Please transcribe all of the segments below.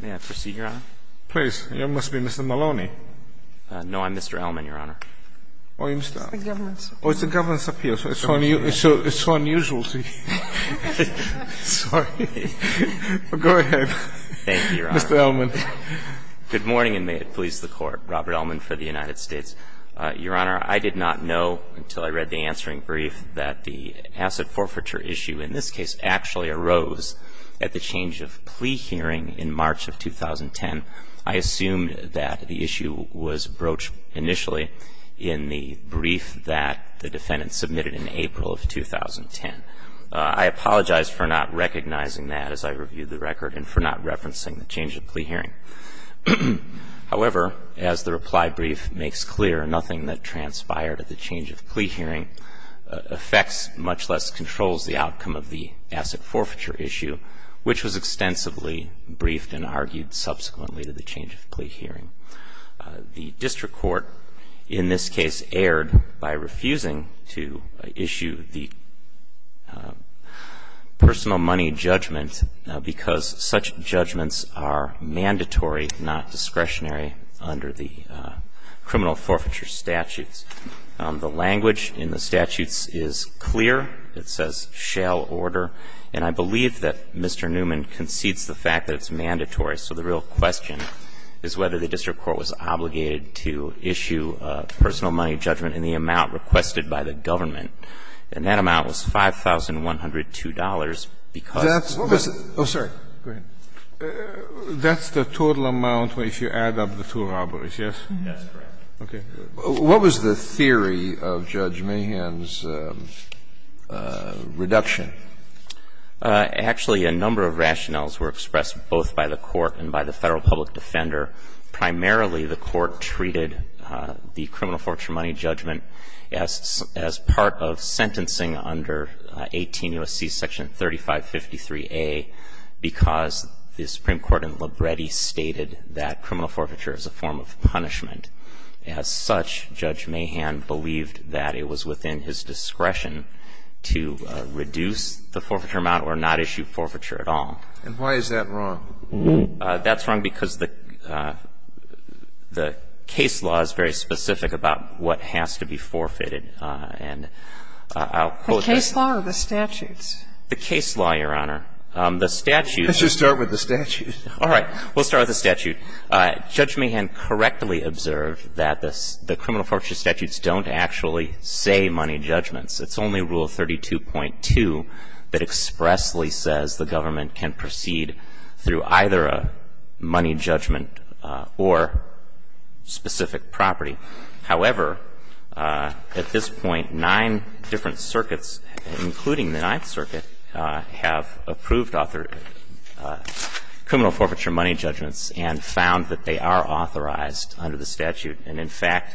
May I proceed, Your Honor? Please. You must be Mr. Maloney. No, I'm Mr. Ellman, Your Honor. Oh, you're Mr. Ellman. It's the governess. Oh, it's the governess up here. It's so unusual to see. Sorry. Go ahead. Thank you, Your Honor. Mr. Ellman. Good morning, and may it please the Court. Robert Ellman for the United States. Your Honor, I did not know until I read the answering brief that the asset forfeiture issue in this case actually arose at the change of plea hearing in March of 2010. I assumed that the issue was broached initially in the brief that the defendant submitted in April of 2010. I apologize for not recognizing that as I reviewed the record and for not referencing the change of plea hearing. However, as the reply brief makes clear, nothing that transpired at the change of plea hearing affects much less controls the outcome of the asset forfeiture issue, which was extensively briefed and argued subsequently to the change of plea hearing. The district court in this case erred by refusing to issue the personal money judgment because such judgments are mandatory, not discretionary under the criminal forfeiture statutes. The language in the statutes is clear. It says, shall order. And I believe that Mr. Newman concedes the fact that it's mandatory. So the real question is whether the district court was obligated to issue a personal money judgment in the amount requested by the government. Oh, sorry. Go ahead. That's the total amount if you add up the two robberies, yes? Yes, that's correct. Okay. What was the theory of Judge Mahan's reduction? Actually, a number of rationales were expressed both by the court and by the Federal public defender. Primarily, the court treated the criminal forfeiture money judgment as part of sentencing under 18 U.S.C. Section 3553A because the Supreme Court in Libretti stated that criminal forfeiture is a form of punishment. As such, Judge Mahan believed that it was within his discretion to reduce the forfeiture amount or not issue forfeiture at all. And why is that wrong? That's wrong because the case law is very specific about what has to be forfeited. And I'll quote that. The case law or the statutes? The case law, Your Honor. The statute. Let's just start with the statute. All right. We'll start with the statute. Judge Mahan correctly observed that the criminal forfeiture statutes don't actually say money judgments. It's only Rule 32.2 that expressly says the government can proceed through either a money judgment or specific property. However, at this point, nine different circuits, including the Ninth Circuit, have approved criminal forfeiture money judgments and found that they are authorized under the statute. And, in fact,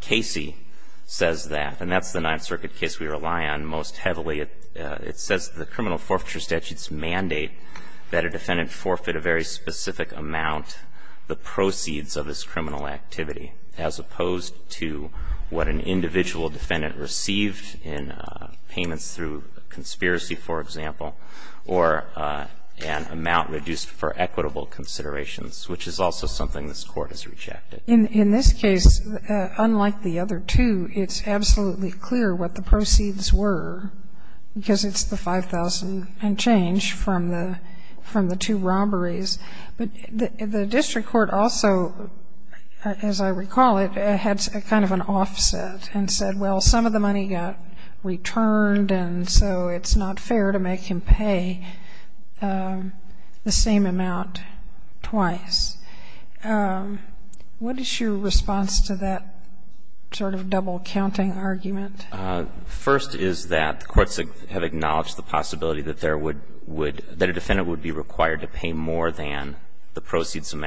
Casey says that. And that's the Ninth Circuit case we rely on most heavily. It says the criminal forfeiture statutes mandate that a defendant forfeit a very specific amount, the proceeds of his criminal activity, as opposed to what an individual defendant received in payments through a conspiracy, for example, or an amount reduced for equitable considerations, which is also something this Court has rejected. In this case, unlike the other two, it's absolutely clear what the proceeds were, because it's the 5,000 and change from the two robberies. But the district court also, as I recall it, had kind of an offset and said, well, some of the money got returned, and so it's not fair to make him pay the same amount twice. What is your response to that sort of double-counting argument? First is that the courts have acknowledged the possibility that there would be, that the courts have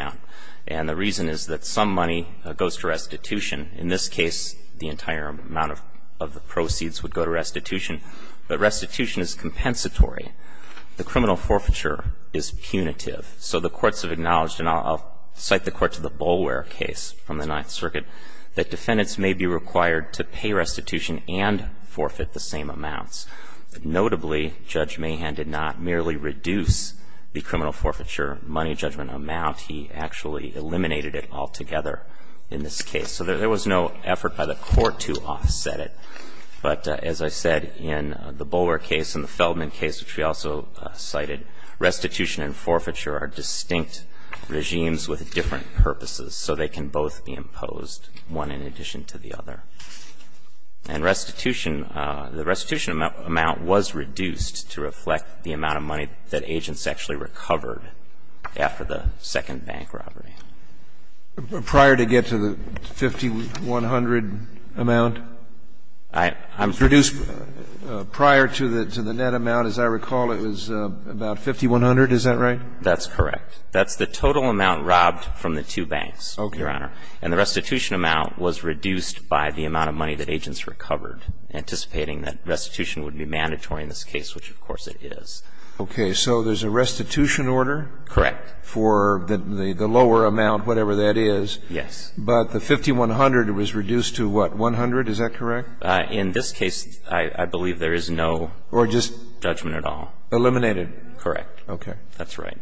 acknowledged, and I'll cite the court to the Boulware case from the Ninth Circuit, that defendants may be required to pay restitution and forfeit the same amounts. Notably, Judge Mahan did not merely reduce the criminal forfeiture money. But restitution is compensatory. In this case, he did not reduce the money judgment amount. He actually eliminated it altogether in this case. So there was no effort by the Court to offset it. But as I said, in the Boulware case and the Feldman case, which we also cited, restitution and forfeiture are distinct regimes with different purposes, so they can both be imposed, one in addition to the other. And restitution, the restitution amount was reduced to reflect the amount of money that agents actually recovered after the second bank robbery. Prior to get to the 5,100 amount? I'm reduced. Prior to the net amount, as I recall, it was about 5,100. Is that right? That's correct. That's the total amount robbed from the two banks, Your Honor. And the restitution amount was reduced by the amount of money that agents recovered, anticipating that restitution would be mandatory in this case, which, of course, it is. Okay. So there's a restitution order? Correct. For the lower amount, whatever that is? Yes. But the 5,100, it was reduced to what, 100? Is that correct? In this case, I believe there is no judgment at all. Eliminated? Correct. Okay. That's right.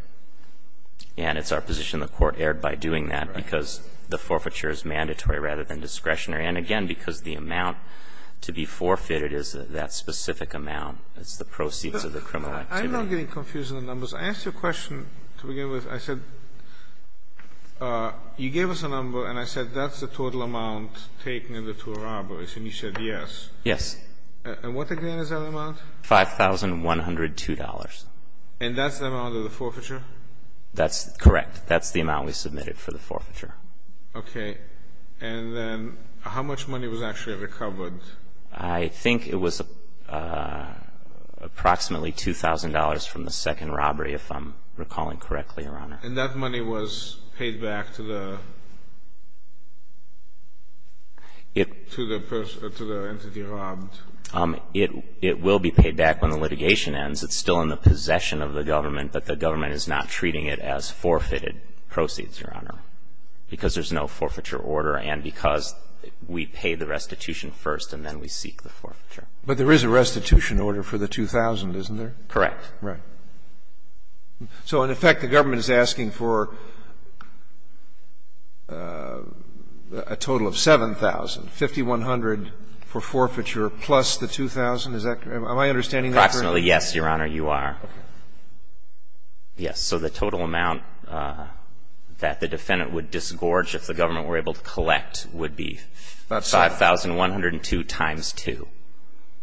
And it's our position the Court erred by doing that because the forfeiture is mandatory rather than discretionary, and, again, because the amount to be forfeited is that specific amount. It's the proceeds of the criminal activity. I'm now getting confused in the numbers. I asked you a question to begin with. I said, you gave us a number, and I said that's the total amount taken in the two robberies, and you said yes. Yes. And what, again, is that amount? $5,102. And that's the amount of the forfeiture? That's correct. That's the amount we submitted for the forfeiture. Okay. And then how much money was actually recovered? I think it was approximately $2,000 from the second robbery, if I'm recalling correctly, Your Honor. And that money was paid back to the entity robbed? It will be paid back when the litigation ends. It's still in the possession of the government, but the government is not treating it as forfeited proceeds, Your Honor, because there's no forfeiture order and because we pay the restitution first and then we seek the forfeiture. But there is a restitution order for the $2,000, isn't there? Correct. Right. So, in effect, the government is asking for a total of $7,000, $5,100 for forfeiture plus the $2,000. Is that correct? Am I understanding that correctly? Approximately, yes, Your Honor, you are. Okay. Yes. So the total amount that the defendant would disgorge if the government were able to collect would be $5,102 times 2,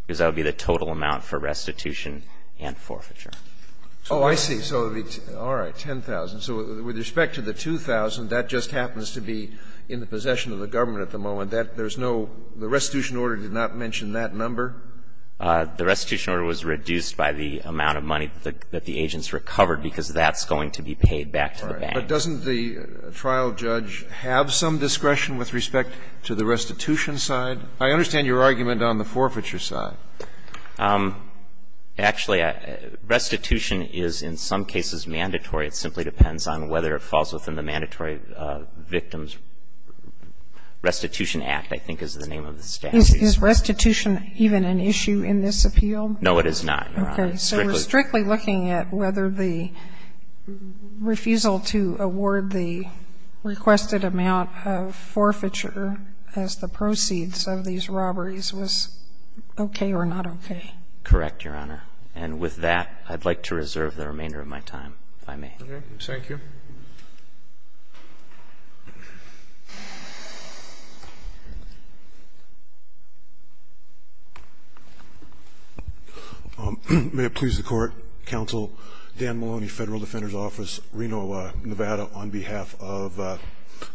because that would be the total amount for restitution and forfeiture. Oh, I see. All right. $10,000. So with respect to the $2,000, that just happens to be in the possession of the government at the moment. There's no — the restitution order did not mention that number? The restitution order was reduced by the amount of money that the agents recovered, because that's going to be paid back to the bank. All right. But doesn't the trial judge have some discretion with respect to the restitution side? I understand your argument on the forfeiture side. Actually, restitution is in some cases mandatory. It simply depends on whether it falls within the Mandatory Victims Restitution Act, I think is the name of the statute. Is restitution even an issue in this appeal? No, it is not, Your Honor. So we're strictly looking at whether the refusal to award the requested amount of forfeiture as the proceeds of these robberies was okay or not okay. Correct, Your Honor. And with that, I'd like to reserve the remainder of my time, if I may. Thank you. May it please the Court, Counsel Dan Maloney, Federal Defender's Office, Reno, Nevada, on behalf of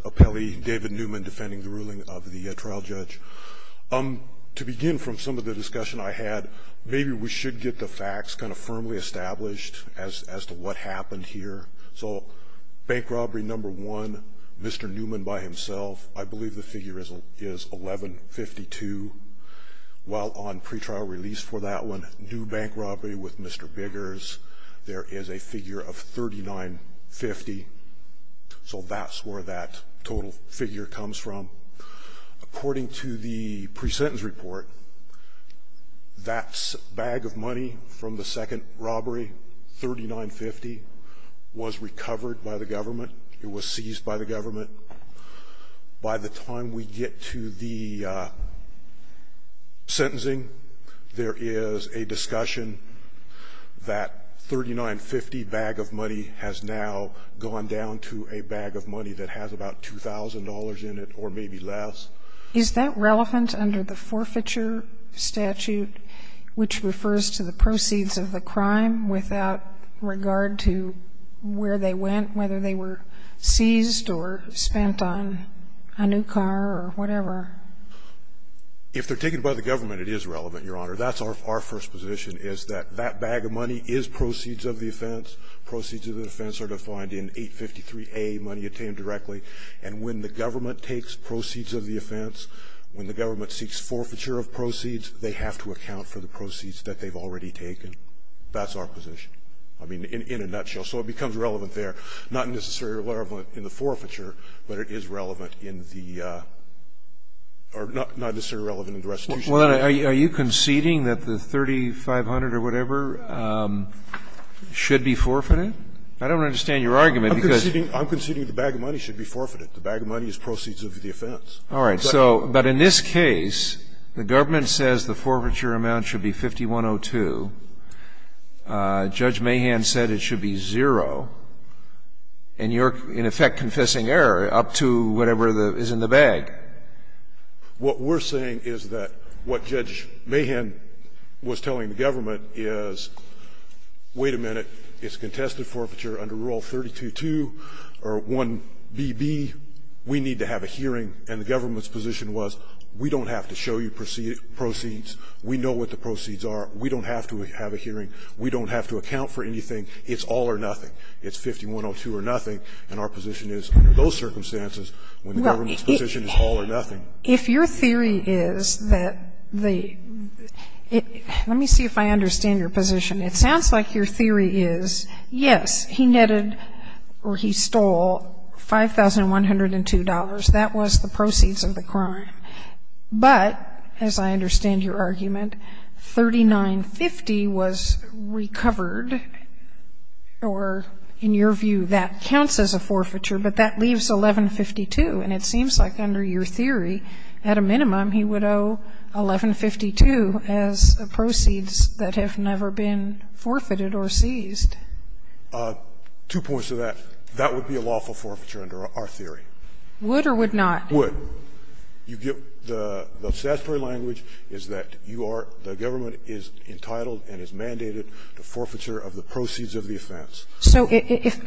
appellee David Newman, defending the ruling of the trial judge. To begin from some of the discussion I had, maybe we should get the facts kind of firmly established as to what happened here. So bank robbery number one, Mr. Newman by himself. I believe the figure is $1,152. While on pretrial release for that one, new bank robbery with Mr. Biggers, there is a figure of $3,950. So that's where that total figure comes from. According to the presentence report, that bag of money from the second robbery, $3,950, was recovered by the government. It was seized by the government. By the time we get to the sentencing, there is a discussion that $3,950 bag of money has now gone down to a bag of money that has about $2,000 in it or maybe less. Is that relevant under the forfeiture statute, which refers to the proceeds of the crime without regard to where they went, whether they were seized or spent on a new car or whatever? If they're taken by the government, it is relevant, Your Honor. That's our first position, is that that bag of money is proceeds of the offense. Proceeds of the offense are defined in 853a, money obtained directly. And when the government takes proceeds of the offense, when the government seeks forfeiture of proceeds, they have to account for the proceeds that they've already taken. That's our position, I mean, in a nutshell. So it becomes relevant there. Not necessarily relevant in the forfeiture, but it is relevant in the or not necessarily relevant in the restitution. Well, then, are you conceding that the 3,500 or whatever should be forfeited? I don't understand your argument, because you're saying the bag of money should be forfeited. The bag of money is proceeds of the offense. All right. So, but in this case, the government says the forfeiture amount should be 5,102. Judge Mahan said it should be zero. And you're, in effect, confessing error up to whatever is in the bag. What we're saying is that what Judge Mahan was telling the government is, wait a minute, it's contested forfeiture under Rule 32.2 or 1BB. We need to have a hearing. And the government's position was, we don't have to show you proceeds. We know what the proceeds are. We don't have to have a hearing. We don't have to account for anything. It's all or nothing. It's 5,102 or nothing. And our position is, under those circumstances, when the government's position is all or nothing. If your theory is that the – let me see if I understand your position. It sounds like your theory is, yes, he netted or he stole $5,102. That was the proceeds of the crime. But, as I understand your argument, 3,950 was recovered or, in your view, that counts as a forfeiture, but that leaves 1,152. And it seems like under your theory, at a minimum, he would owe 1,152 as proceeds that have never been forfeited or seized. Two points to that. That would be a lawful forfeiture under our theory. Would or would not? Would. You get the statutory language is that you are – the government is entitled and is mandated to forfeiture of the proceeds of the offense. So if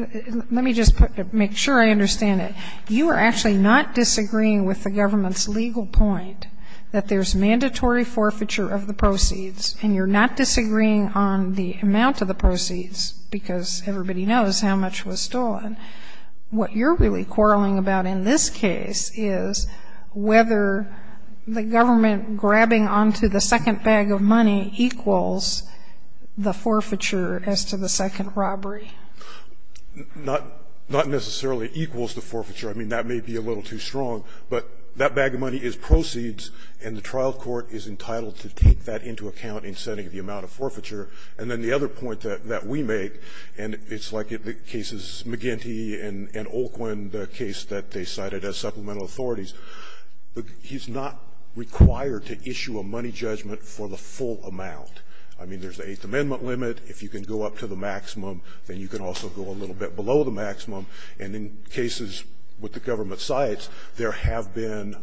– let me just make sure I understand it. You are actually not disagreeing with the government's legal point that there's not disagreeing on the amount of the proceeds, because everybody knows how much was stolen. What you're really quarreling about in this case is whether the government grabbing onto the second bag of money equals the forfeiture as to the second robbery. Not necessarily equals the forfeiture. I mean, that may be a little too strong. But that bag of money is proceeds, and the trial court is entitled to take that into account in setting the amount of forfeiture. And then the other point that we make, and it's like the cases McGinty and Olquin, the case that they cited as supplemental authorities. He's not required to issue a money judgment for the full amount. I mean, there's the Eighth Amendment limit. If you can go up to the maximum, then you can also go a little bit below the maximum. And in cases with the government sites, there have been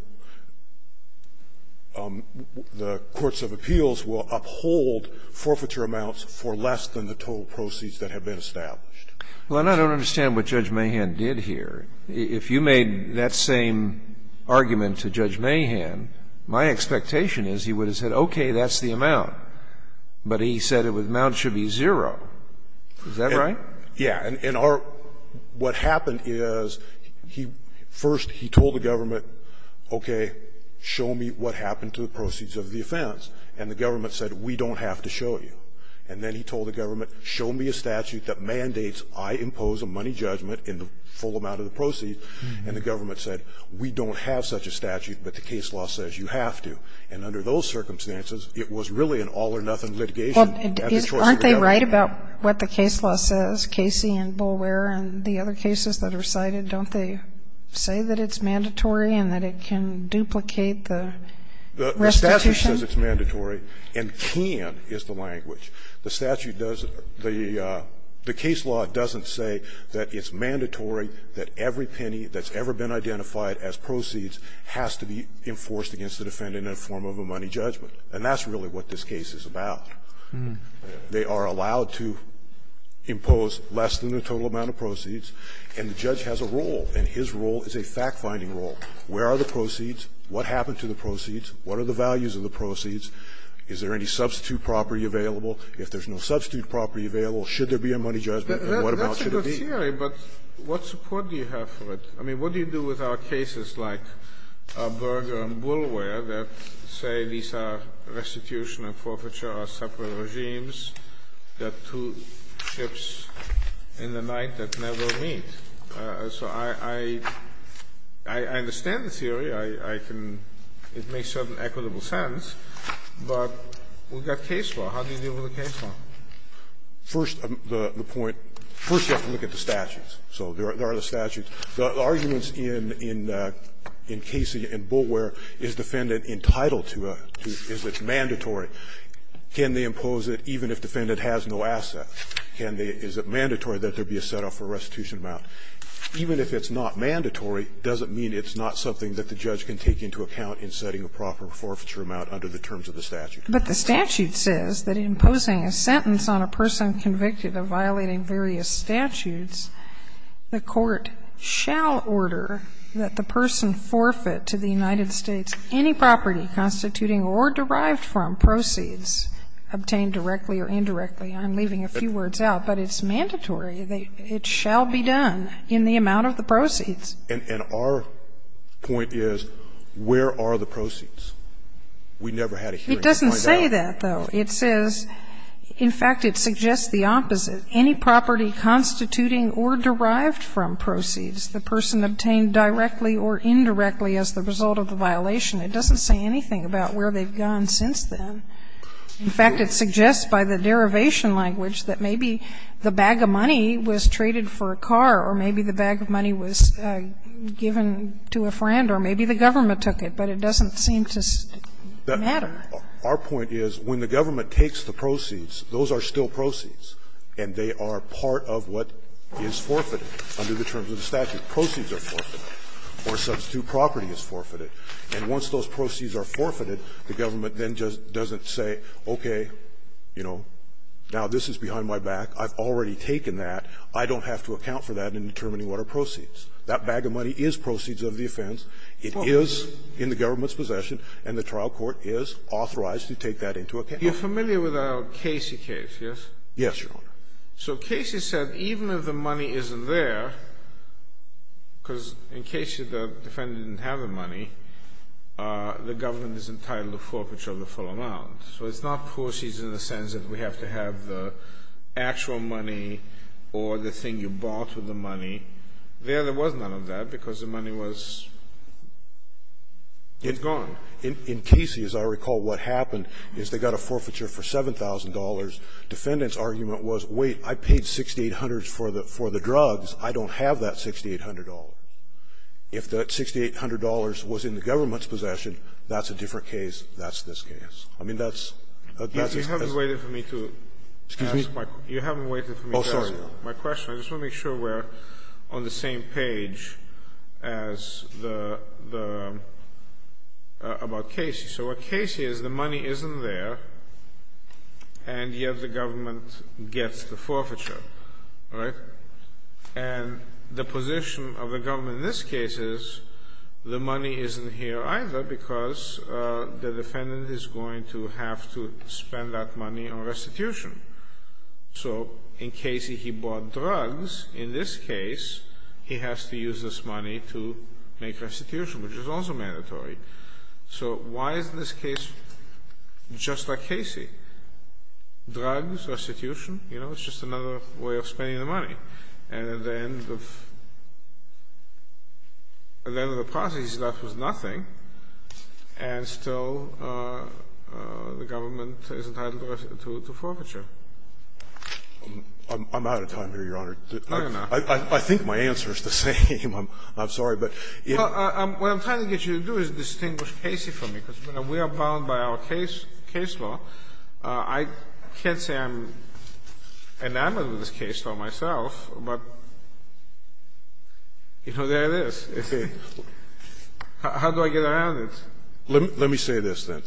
the courts of appeals will uphold forfeiture amounts for less than the total proceeds that have been established. Well, and I don't understand what Judge Mahan did here. If you made that same argument to Judge Mahan, my expectation is he would have said, okay, that's the amount. But he said the amount should be zero. Is that right? Yeah. And what happened is, first he told the government, okay, show me what happened to the proceeds of the offense. And the government said, we don't have to show you. And then he told the government, show me a statute that mandates I impose a money judgment in the full amount of the proceeds. And the government said, we don't have such a statute, but the case law says you have to. And under those circumstances, it was really an all-or-nothing litigation. Aren't they right about what the case law says? Casey and Bulwer and the other cases that are cited, don't they say that it's mandatory and that it can duplicate the restitution? The statute says it's mandatory, and can is the language. The statute does the case law doesn't say that it's mandatory, that every penny that's ever been identified as proceeds has to be enforced against the defendant in the form of a money judgment. And that's really what this case is about. They are allowed to impose less than the total amount of proceeds. And the judge has a role, and his role is a fact-finding role. Where are the proceeds? What happened to the proceeds? What are the values of the proceeds? Is there any substitute property available? If there's no substitute property available, should there be a money judgment, and what amount should it be? That's a good theory, but what support do you have for it? I mean, what do you do with our cases like Berger and Bulwer that say these are restitution and forfeiture or separate regimes, that two ships in the night that never meet? So I understand the theory. I can – it makes certain equitable sense, but we've got case law. How do you deal with the case law? First, the point – first, you have to look at the statutes. So there are the statutes. The arguments in Casey and Bulwer, is defendant entitled to a – is it mandatory can they impose it even if defendant has no asset? Can they – is it mandatory that there be a set-off for restitution amount? Even if it's not mandatory, does it mean it's not something that the judge can take into account in setting a proper forfeiture amount under the terms of the statute? But the statute says that imposing a sentence on a person convicted of violating various statutes, the court shall order that the person forfeit to the United States any property constituting or derived from proceeds obtained directly or indirectly. I'm leaving a few words out, but it's mandatory. It shall be done in the amount of the proceeds. And our point is, where are the proceeds? We never had a hearing to find out. It doesn't say that, though. It says – in fact, it suggests the opposite. Any property constituting or derived from proceeds the person obtained directly or indirectly as the result of the violation. It doesn't say anything about where they've gone since then. In fact, it suggests by the derivation language that maybe the bag of money was traded for a car or maybe the bag of money was given to a friend or maybe the government took it, but it doesn't seem to matter. Our point is, when the government takes the proceeds, those are still proceeds and they are part of what is forfeited under the terms of the statute. Proceeds are forfeited or substitute property is forfeited. And once those proceeds are forfeited, the government then just doesn't say, okay, you know, now this is behind my back, I've already taken that, I don't have to account for that in determining what are proceeds. That bag of money is proceeds of the offense. It is in the government's possession and the trial court is authorized to take that into account. Kennedy. You're familiar with our Casey case, yes? Yes, Your Honor. So Casey said even if the money isn't there, because in Casey the defendant didn't have the money, the government is entitled to forfeiture of the full amount. So it's not proceeds in the sense that we have to have the actual money or the thing you bought with the money. There, there was none of that because the money was gone. In Casey, as I recall, what happened is they got a forfeiture for $7,000. The defendant's argument was, wait, I paid $6,800 for the drugs. I don't have that $6,800. If that $6,800 was in the government's possession, that's a different case. That's this case. I mean, that's, that's a different case. You haven't waited for me to ask my question. Excuse me? You haven't waited for me to ask my question. Oh, sorry. I just want to make sure we're on the same page as the, the, about Casey. So what Casey is, the money isn't there, and yet the government gets the forfeiture, right? And the position of the government in this case is the money isn't here either because the defendant is going to have to spend that money on restitution. So in Casey, he bought drugs. In this case, he has to use this money to make restitution, which is also mandatory. So why is this case just like Casey? Drugs, restitution, you know, it's just another way of spending the money. And at the end of, at the end of the process, he's left with nothing, and still the government is entitled to forfeiture. I'm out of time here, Your Honor. I think my answer is the same. I'm sorry. What I'm trying to get you to do is distinguish Casey from me, because we are bound by our case law. I can't say I'm enamored with this case law myself, but, you know, there it is. How do I get around it? Let me say this, then.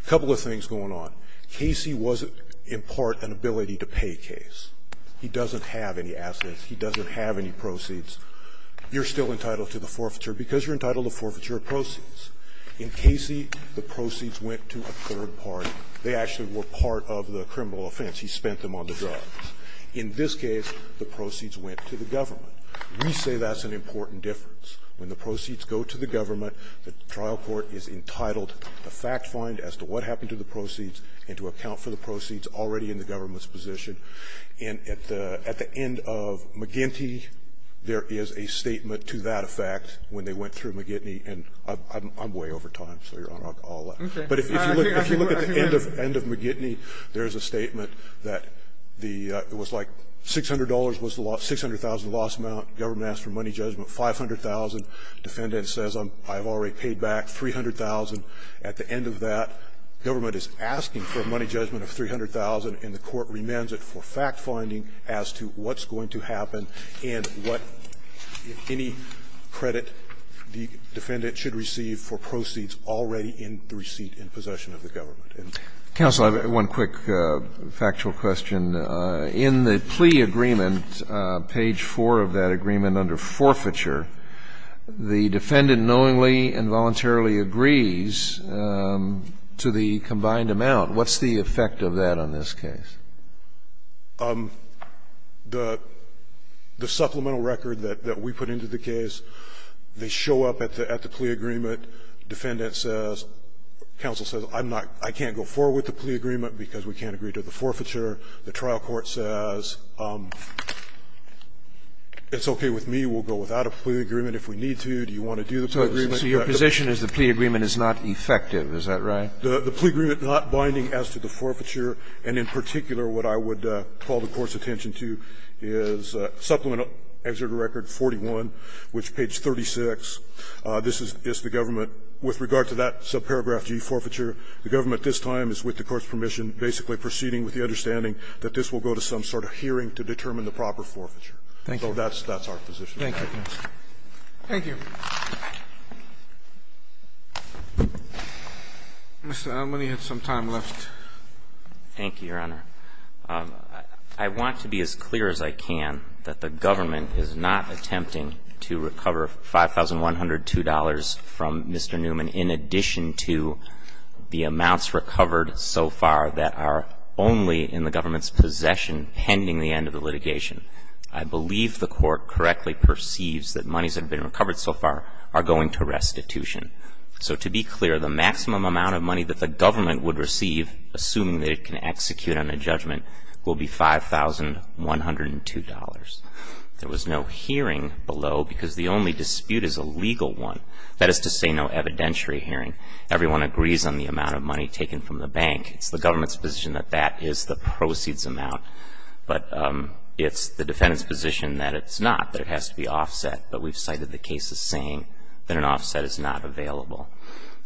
A couple of things going on. Casey was, in part, an ability-to-pay case. He doesn't have any assets. He doesn't have any proceeds. You're still entitled to the forfeiture because you're entitled to forfeiture of proceeds. In Casey, the proceeds went to a third party. They actually were part of the criminal offense. He spent them on the drugs. In this case, the proceeds went to the government. We say that's an important difference. When the proceeds go to the government, the trial court is entitled to fact-find as to what happened to the proceeds and to account for the proceeds already in the government's position. And at the end of McGinty, there is a statement to that effect when they went through McGinty. And I'm way over time, so Your Honor, I'll let you. But if you look at the end of McGinty, there's a statement that the ---- it was like $600 was the loss, $600,000 loss amount. Government asked for money judgment, $500,000. Defendant says I've already paid back $300,000. At the end of that, government is asking for a money judgment of $300,000, and the government is asking for fact-finding as to what's going to happen and what, if any, credit the defendant should receive for proceeds already in the receipt and possession of the government. And that's it. Scalia. Counsel, I have one quick factual question. In the plea agreement, page 4 of that agreement under forfeiture, the defendant knowingly and voluntarily agrees to the combined amount. What's the effect of that on this case? The supplemental record that we put into the case, they show up at the plea agreement. Defendant says, counsel says, I'm not ---- I can't go forward with the plea agreement because we can't agree to the forfeiture. The trial court says, it's okay with me. We'll go without a plea agreement if we need to. Do you want to do the plea agreement? So your position is the plea agreement is not effective, is that right? The plea agreement not binding as to the forfeiture, and in particular, what I would call the Court's attention to is supplemental exerted record 41, which, page 36, this is the government. With regard to that subparagraph G, forfeiture, the government this time is, with the Court's permission, basically proceeding with the understanding that this will go to some sort of hearing to determine the proper forfeiture. Thank you. So that's our position. Thank you. Mr. Almaney had some time left. Thank you, Your Honor. I want to be as clear as I can that the government is not attempting to recover $5,102 from Mr. Newman in addition to the amounts recovered so far that are only in the government's possession pending the end of the litigation. I believe the Court correctly perceives that monies that have been recovered so far are going to restitution. So to be clear, the maximum amount of money that the government would receive, assuming that it can execute on a judgment, will be $5,102. There was no hearing below because the only dispute is a legal one. That is to say, no evidentiary hearing. Everyone agrees on the amount of money taken from the bank. It's the government's position that that is the proceeds amount. But it's the defendant's position that it's not, that it has to be offset. But we've cited the cases saying that an offset is not available.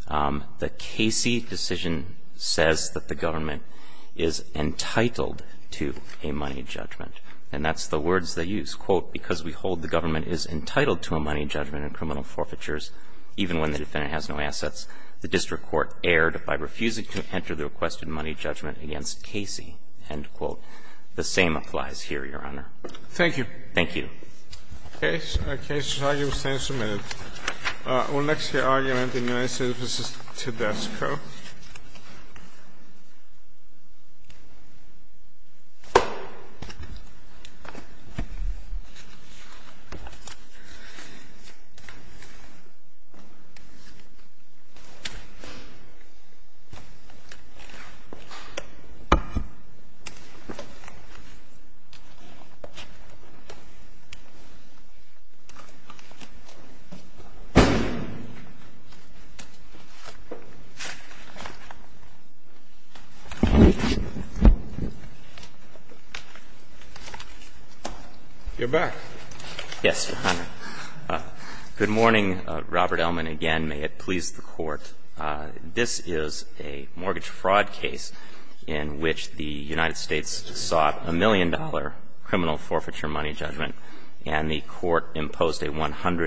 The Casey decision says that the government is entitled to a money judgment. And that's the words they use. Quote, because we hold the government is entitled to a money judgment in criminal forfeitures, even when the defendant has no assets, the district court erred by refusing to enter the requested money judgment against Casey. End quote. The same applies here, Your Honor. Thank you. Thank you. Okay, so our case is now being submitted. We'll next hear argument in United States v. Tedesco. You're back. Yes, Your Honor. Good morning, Robert Ellman, again. May it please the Court. This is a mortgage fraud case in which the United States sought a million dollar criminal forfeiture money judgment, and the court imposed a $100,000.